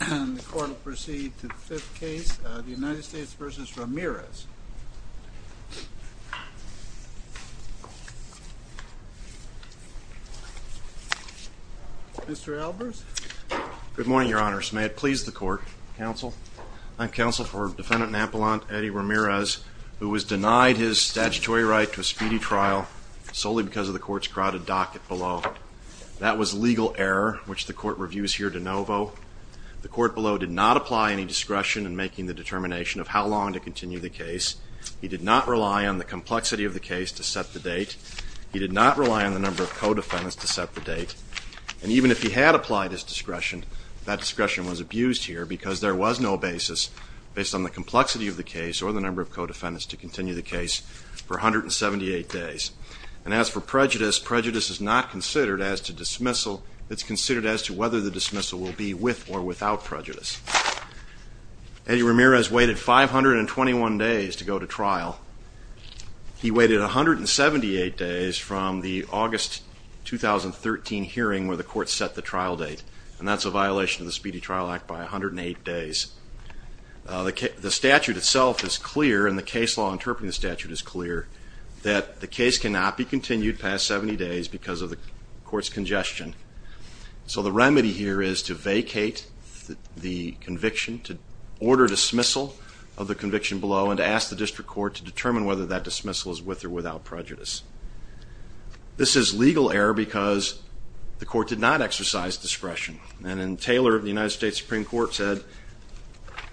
And the court will proceed to the fifth case, the United States v. Ramirez. Mr. Albers. Good morning, your honors. May it please the court, counsel. I'm counsel for defendant Napolon Eddi Ramirez, who was denied his statutory right to a speedy trial solely because of the court's crowded docket below. That was The court below did not apply any discretion in making the determination of how long to continue the case. He did not rely on the complexity of the case to set the date. He did not rely on the number of co-defendants to set the date. And even if he had applied his discretion, that discretion was abused here because there was no basis based on the complexity of the case or the number of co-defendants to continue the case for 178 days. And as for prejudice, prejudice is not considered as to dismissal. It's considered as to whether the dismissal will be with or without prejudice. Eddi Ramirez waited 521 days to go to trial. He waited 178 days from the August 2013 hearing where the court set the trial date. And that's a violation of the Speedy Trial Act by 108 days. The statute itself is clear, and the case law interpreting the statute is clear, that the case cannot be continued past 70 days because of the complexity here is to vacate the conviction, to order dismissal of the conviction below and to ask the district court to determine whether that dismissal is with or without prejudice. This is legal error because the court did not exercise discretion. And in Taylor, the United States Supreme Court said,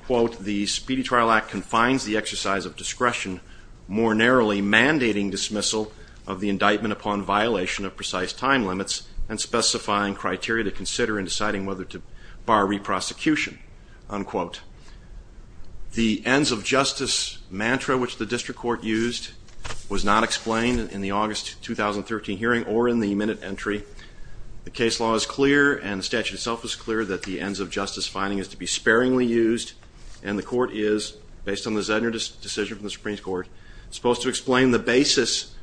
quote, the Speedy Trial Act confines the exercise of discretion more narrowly mandating dismissal of the indictment upon violation of precise time limits and specifying criteria to consider in deciding whether to bar re-prosecution, unquote. The ends of justice mantra which the district court used was not explained in the August 2013 hearing or in the minute entry. The case law is clear and the statute itself is clear that the ends of justice finding is to be sparingly used and the court is, based on the Zedner decision from the Supreme Court, supposed to explain the basis,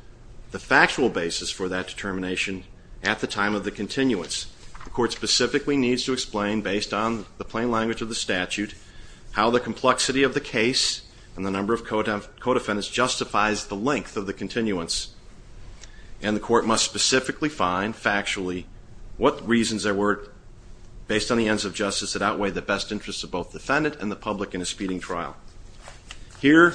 the factual basis for that determination at the time of the continuance. The court specifically needs to explain, based on the plain language of the statute, how the complexity of the case and the number of co-defendants justifies the length of the continuance and the court must specifically find, factually, what reasons there were, based on the ends of justice, that outweigh the best interests of both defendant and the public in a speeding trial. Here,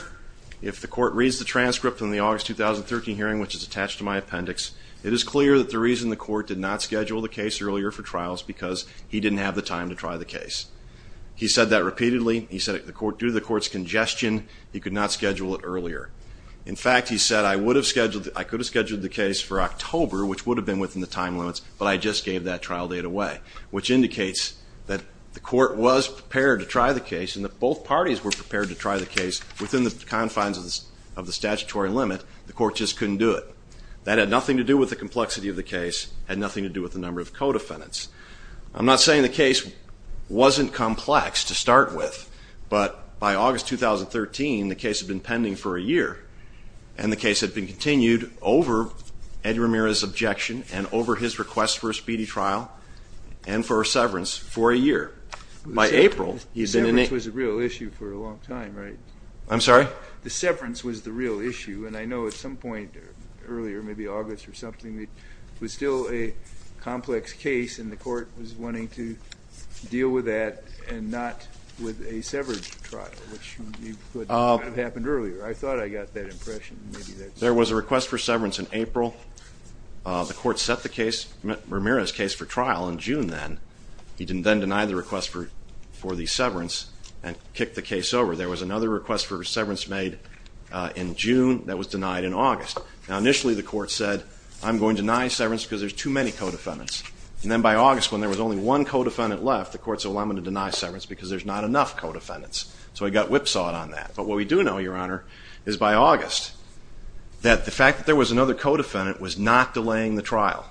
if the court reads the transcript from the August 2013 hearing, which is attached to my appendix, it is clear that the reason the court did not schedule the case earlier for trials because he didn't have the time to try the case. He said that repeatedly. He said, due to the court's congestion, he could not schedule it earlier. In fact, he said, I would have scheduled, I could have scheduled the case for October, which would have been within the time limits, but I just gave that trial date away, which indicates that the court was within the confines of the statutory limit. The court just couldn't do it. That had nothing to do with the complexity of the case, had nothing to do with the number of co-defendants. I'm not saying the case wasn't complex to start with, but by August 2013, the case had been pending for a year and the case had been continued over Eddie Ramirez's objection and over his request for a speedy trial and for a severance for a year. By April, he'd been in a... I'm sorry? The severance was the real issue, and I know at some point earlier, maybe August or something, it was still a complex case and the court was wanting to deal with that and not with a severed trial, which would have happened earlier. I thought I got that impression. There was a request for severance in April. The court set the case, Ramirez's case, for trial in June then. He then denied the request for the severance and kicked the case over. There was another request for severance made in June that was denied in August. Now initially, the court said, I'm going to deny severance because there's too many co-defendants. And then by August, when there was only one co-defendant left, the court said, well, I'm going to deny severance because there's not enough co-defendants. So I got whipsawed on that. But what we do know, Your Honor, is by August, that the fact that there was another co-defendant was not delaying the trial.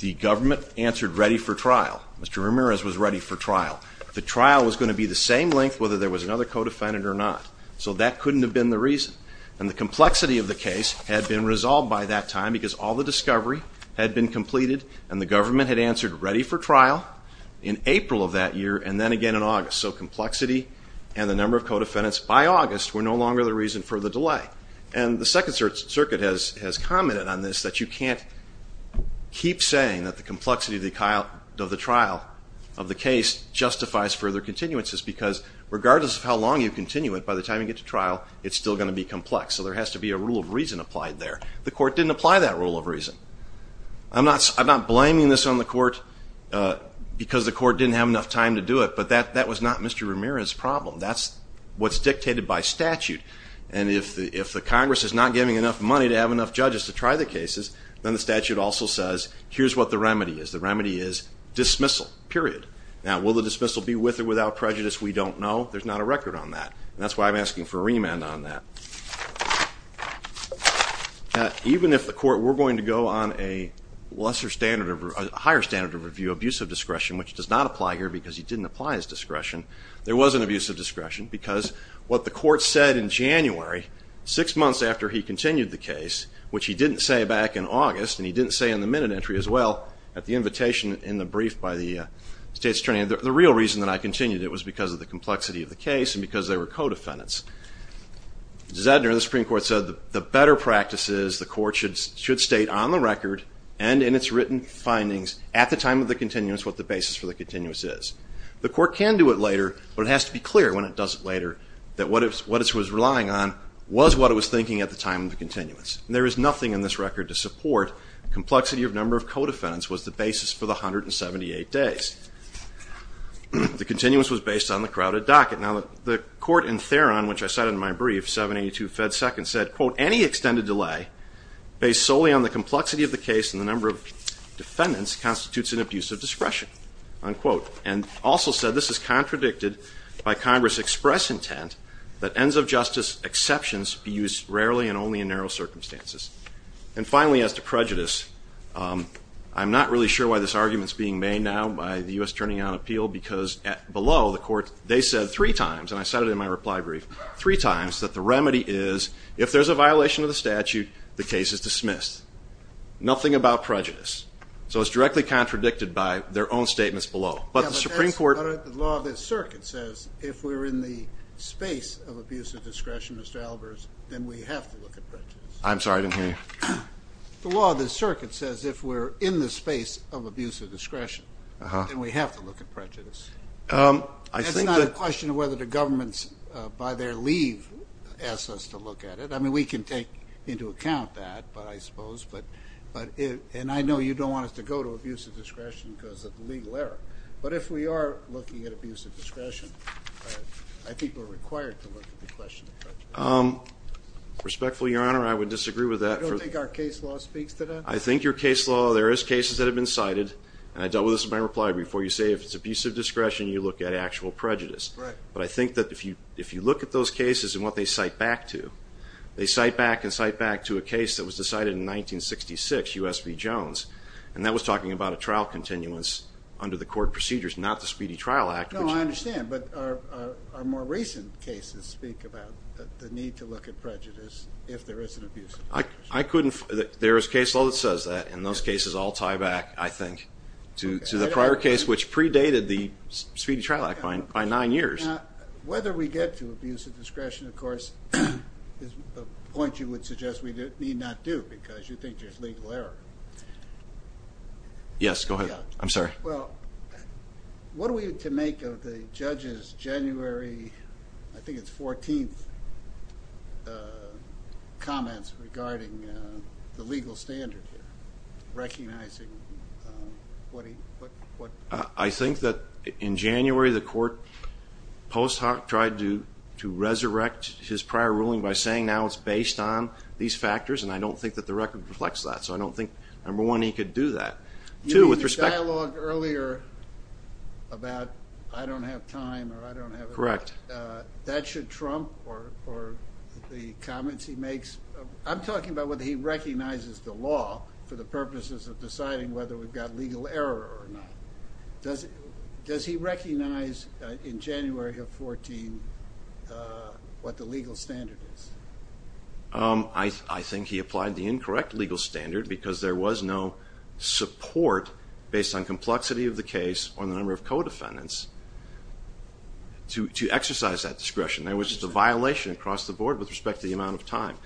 The government answered ready for trial. Mr. Ramirez was ready for trial. The trial was going to be the same length, whether there was another co-defendant or not. So that couldn't have been the reason. And the complexity of the case had been resolved by that time because all the discovery had been completed and the government had answered ready for trial in April of that year and then again in August. So complexity and the number of co-defendants by August were no longer the reason for the delay. And the Second Circuit has commented on this, that you can't keep saying that the complexity of the trial of the case justifies further continuances because regardless of how long you continue it, by the time you get to trial, it's still going to be complex. So there has to be a rule of reason applied there. The court didn't apply that rule of reason. I'm not blaming this on the court because the court didn't have enough time to do it, but that was not Mr. Ramirez's problem. That's what's dictated by statute. And if the Congress is not giving enough money to have enough judges to try the cases, then the statute also says, here's what the remedy is. The remedy is dismissal, period. Now will the dismissal be with or without prejudice? We don't know. There's not a record on that. That's why I'm asking for a remand on that. Even if the court were going to go on a lesser standard, a higher standard of review, abuse of discretion, which does not apply here because he didn't apply his discretion, there was an abuse of discretion because what the court said in January, six months after he continued the case, which he didn't say back in August and he didn't say in the minute entry as well at the invitation in the brief by the state's attorney, the real reason that I continued it was because of the case and because they were co-defendants. Zedner and the Supreme Court said the better practice is the court should state on the record and in its written findings at the time of the continuance what the basis for the continuance is. The court can do it later, but it has to be clear when it does it later that what it was relying on was what it was thinking at the time of the continuance. There is nothing in this record to support complexity of number of co-defendants was the basis for the 178 days. The continuance was based on the crowded docket. Now the court in Theron, which I cited in my brief, 782 Fed Second, said quote, any extended delay based solely on the complexity of the case and the number of defendants constitutes an abuse of discretion, unquote, and also said this is contradicted by Congress express intent that ends of justice exceptions be used rarely and only in narrow circumstances. And finally as to prejudice, I'm not really sure why this arguments being made now by the U.S. turning on appeal because below the court they said three times, and I said it in my reply brief, three times that the remedy is if there's a violation of the statute the case is dismissed. Nothing about prejudice. So it's directly contradicted by their own statements below, but the Supreme Court. The law of the circuit says if we're in the space of abuse of discretion, Mr. Albers, then we have to look at prejudice. I'm sorry I didn't hear you. The law of the circuit says if we're in the I think the question of whether the government's by their leave asks us to look at it. I mean we can take into account that, but I suppose, but, but it and I know you don't want us to go to abuse of discretion because of the legal error, but if we are looking at abuse of discretion, I think we're required to look at the question of prejudice. Respectfully, your honor, I would disagree with that. You don't think our case law speaks to that? I think your case law, there is cases that have been cited, and I dealt with this in my you look at actual prejudice. But I think that if you look at those cases and what they cite back to, they cite back and cite back to a case that was decided in 1966, U.S. v. Jones, and that was talking about a trial continuance under the court procedures, not the Speedy Trial Act. No, I understand, but our more recent cases speak about the need to look at prejudice if there is an abuse of discretion. I couldn't, there is case law that says that, and those cases all tie back, I think, to the prior case which predated the Speedy Trial Act by nine years. Now, whether we get to abuse of discretion, of course, is a point you would suggest we need not do, because you think there is legal error. Yes, go ahead. I'm sorry. Well, what are we to make of the judge's January, I think it's 14th, comments regarding the legal standard here, I think that in January the court post hoc tried to resurrect his prior ruling by saying, now it's based on these factors, and I don't think that the record reflects that. So I don't think, number one, he could do that. You made this dialogue earlier about I don't have time, or I don't have it. Correct. That should trump the comments he makes. I'm talking about whether he recognizes the law for the purposes of deciding whether we've got legal error or not. Does he recognize in January of 14 what the legal standard is? I think he applied the incorrect legal standard because there was no support, based on complexity of the case or the number of co-defendants, to exercise that discretion. There was just a violation across the board with respect to the amount of time.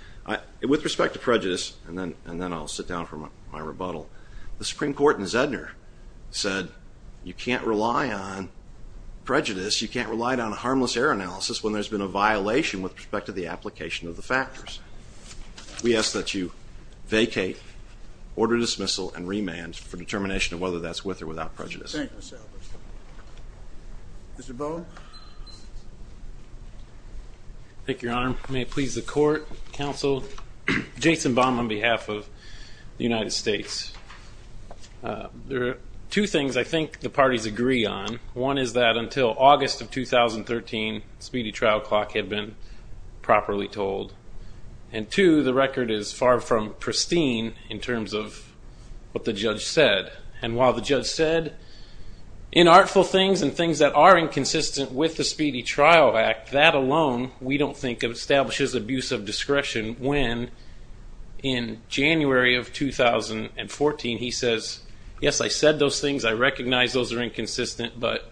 With respect to prejudice, and then I'll sit down for my rebuttal, the Supreme Court in Zedner said you can't rely on prejudice, you can't rely on a harmless error analysis when there's been a violation with respect to the application of the factors. We ask that you vacate, order dismissal, and remand for determination of whether that's with or without prejudice. Thank you, Mr. Albers. Mr. Baum. Thank you, Your Honor. May it please the court, counsel, Jason Baum on behalf of the United States. There are two things I think the parties agree on. One is that until August of 2013, speedy trial clock had been properly told. And two, the record is far from pristine in terms of what the judge said. And while the judge said inartful things and things that are inconsistent with the Speedy Trial Act, that alone we don't think establishes abuse of discretion when in January of 2014 he says, yes, I said those things, I recognize those are inconsistent, but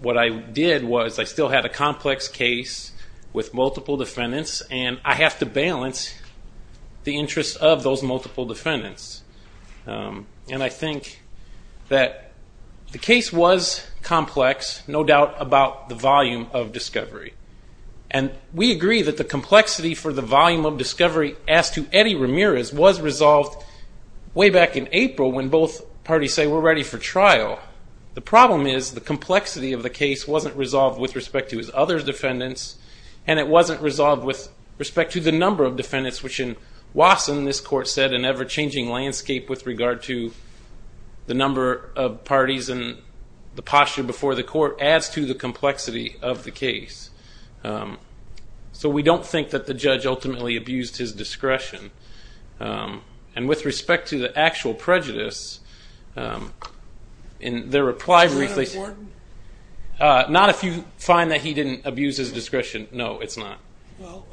what I did was I still had a complex case with multiple defendants, and I have to balance the interests of those multiple defendants. And I think that the case was complex, no doubt about the volume of discovery. And we agree that the complexity for the volume of discovery as to Eddie Ramirez was resolved way back in April when both parties say we're ready for trial. The problem is the complexity of the case wasn't resolved with respect to his other defendants, and it wasn't resolved with respect to the number of defendants, which in Wasson, this court said, an ever-changing landscape with regard to the number of parties and the posture before the court adds to the complexity of the case. So we don't think that the judge ultimately abused his discretion. And with respect to the actual prejudice, in their reply briefly ‑‑ Is that important? Not if you find that he didn't abuse his discretion, no, it's not. Well,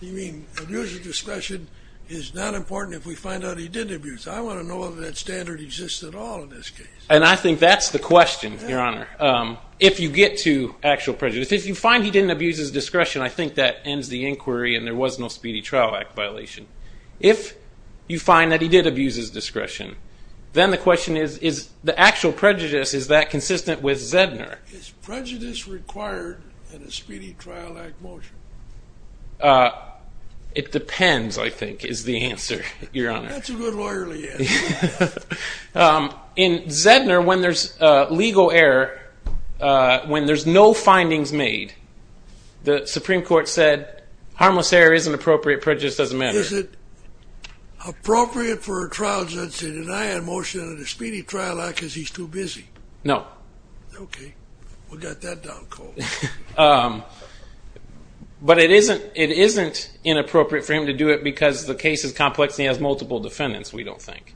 you mean abuse of discretion is not important if we find out he did abuse. I want to know whether that standard exists at all in this case. And I think that's the question, Your Honor. If you get to actual prejudice, if you find he didn't abuse his discretion, I think that ends the inquiry and there was no Speedy Trial Act violation. If you find that he did abuse his discretion, then the question is, is the actual prejudice, is that consistent with Zedner? Is prejudice required in a Speedy Trial Act motion? It depends, I think, is the answer, Your Honor. That's a good lawyerly answer. In Zedner, when there's legal error, when there's no findings made, the Supreme Court said harmless error isn't appropriate, prejudice doesn't matter. Is it appropriate for a trial judge to deny a motion in a Speedy Trial Act because he's too busy? No. Okay. We got that down cold. But it isn't inappropriate for him to do it because the case is complex and he has multiple defendants, we don't think.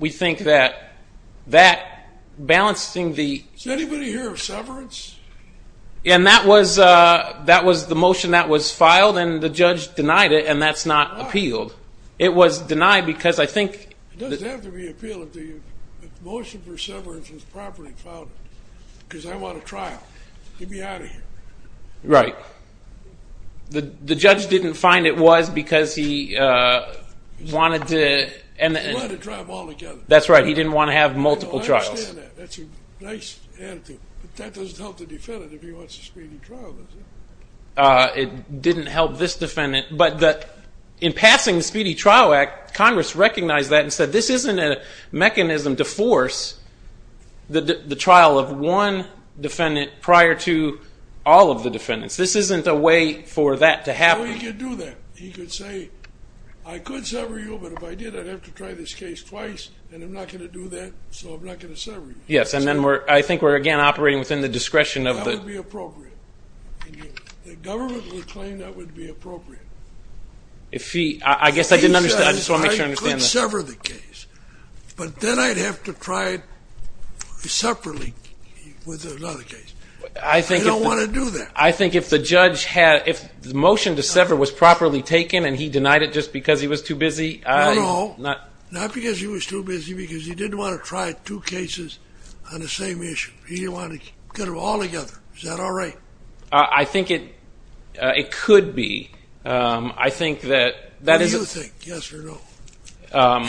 We think that balancing the – Is anybody here of severance? And that was the motion that was filed and the judge denied it and that's not appealed. It was denied because I think – It doesn't have to be appealed if the motion for severance was properly filed because I want a trial, get me out of here. Right. The judge didn't find it was because he wanted to – He wanted to try them all together. That's right. He didn't want to have multiple trials. I understand that. That's a nice attitude. But that doesn't help the defendant if he wants a Speedy Trial, does it? It didn't help this defendant. In passing the Speedy Trial Act, Congress recognized that and said this isn't a mechanism to force the trial of one defendant prior to all of the defendants. This isn't a way for that to happen. No, he could do that. He could say, I could sever you, but if I did, I'd have to try this case twice and I'm not going to do that, so I'm not going to sever you. Yes, and then I think we're, again, operating within the discretion of the – That would be appropriate. The government would claim that would be appropriate. If he – I guess I didn't understand. I just want to make sure I understand this. He could sever the case, but then I'd have to try it separately with another case. I don't want to do that. I think if the judge had – if the motion to sever was properly taken and he denied it just because he was too busy – No, no. Not because he was too busy, because he didn't want to try two cases on the same issue. He didn't want to get them all together. Is that all right? I think it could be. I think that that is – What do you think? Yes or no?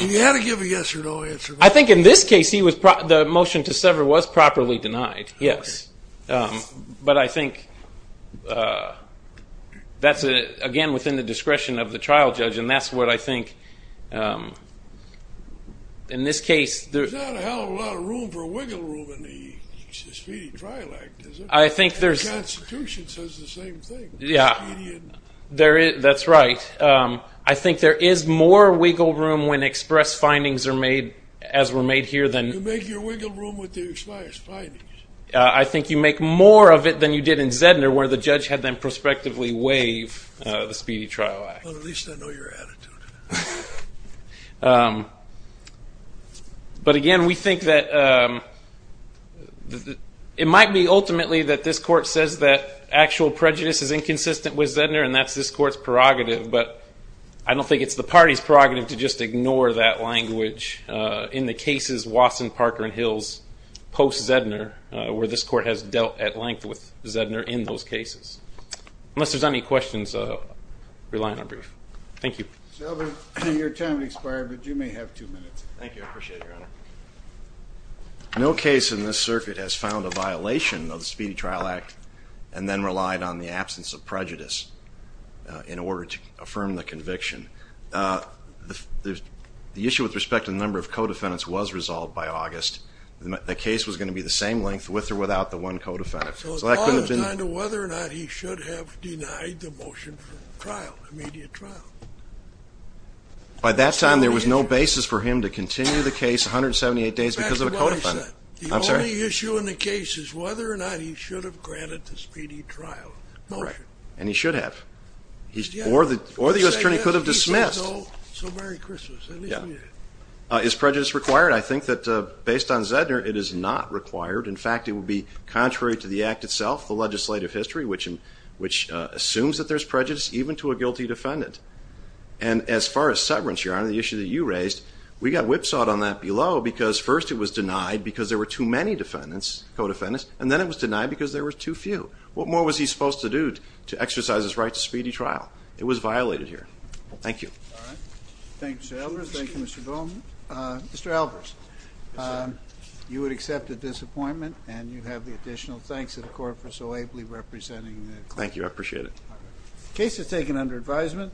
You had to give a yes or no answer. I think in this case he was – the motion to sever was properly denied, yes. Okay. But I think that's, again, within the discretion of the trial judge, and that's what I think in this case – There's not a hell of a lot of room for wiggle room in the speedy trial act, is there? I think there's – The Constitution says the same thing. That's right. I think there is more wiggle room when express findings are made, as were made here, than – You make your wiggle room with the express findings. I think you make more of it than you did in Zedner, where the judge had them prospectively waive the speedy trial act. Well, at least I know your attitude. But, again, we think that it might be, ultimately, that this court says that actual prejudice is inconsistent with Zedner, and that's this court's prerogative. But I don't think it's the party's prerogative to just ignore that language in the cases, Wasson, Parker, and Hills, post-Zedner, where this court has dealt at length with Zedner in those cases. Unless there's any questions, I'll rely on our brief. Thank you. Your time has expired, but you may have two minutes. Thank you. I appreciate it, Your Honor. No case in this circuit has found a violation of the Speedy Trial Act and then relied on the absence of prejudice in order to affirm the conviction. The issue with respect to the number of co-defendants was resolved by August. The case was going to be the same length, with or without the one co-defendant. So it's all the time to whether or not he should have denied the motion for trial, immediate trial. By that time, there was no basis for him to continue the case 178 days because of a co-defendant. The only issue in the case is whether or not he should have granted the speedy trial motion. And he should have. Or the U.S. Attorney could have dismissed. So Merry Christmas. Is prejudice required? I think that, based on Zedner, it is not required. In fact, it would be contrary to the act itself, the legislative history, which assumes that there's prejudice even to a guilty defendant. And as far as severance, Your Honor, the issue that you raised, we got whipsawed on that below because first it was denied because there were too many defendants, co-defendants, and then it was denied because there were too few. What more was he supposed to do to exercise his right to speedy trial? It was violated here. Thank you. All right. Thank you, Mr. Albers. Thank you, Mr. Bowman. Mr. Albers. Yes, sir. You would accept the disappointment, and you have the additional thanks to the court for so ably representing the client. Thank you. I appreciate it. The case is taken under advisement.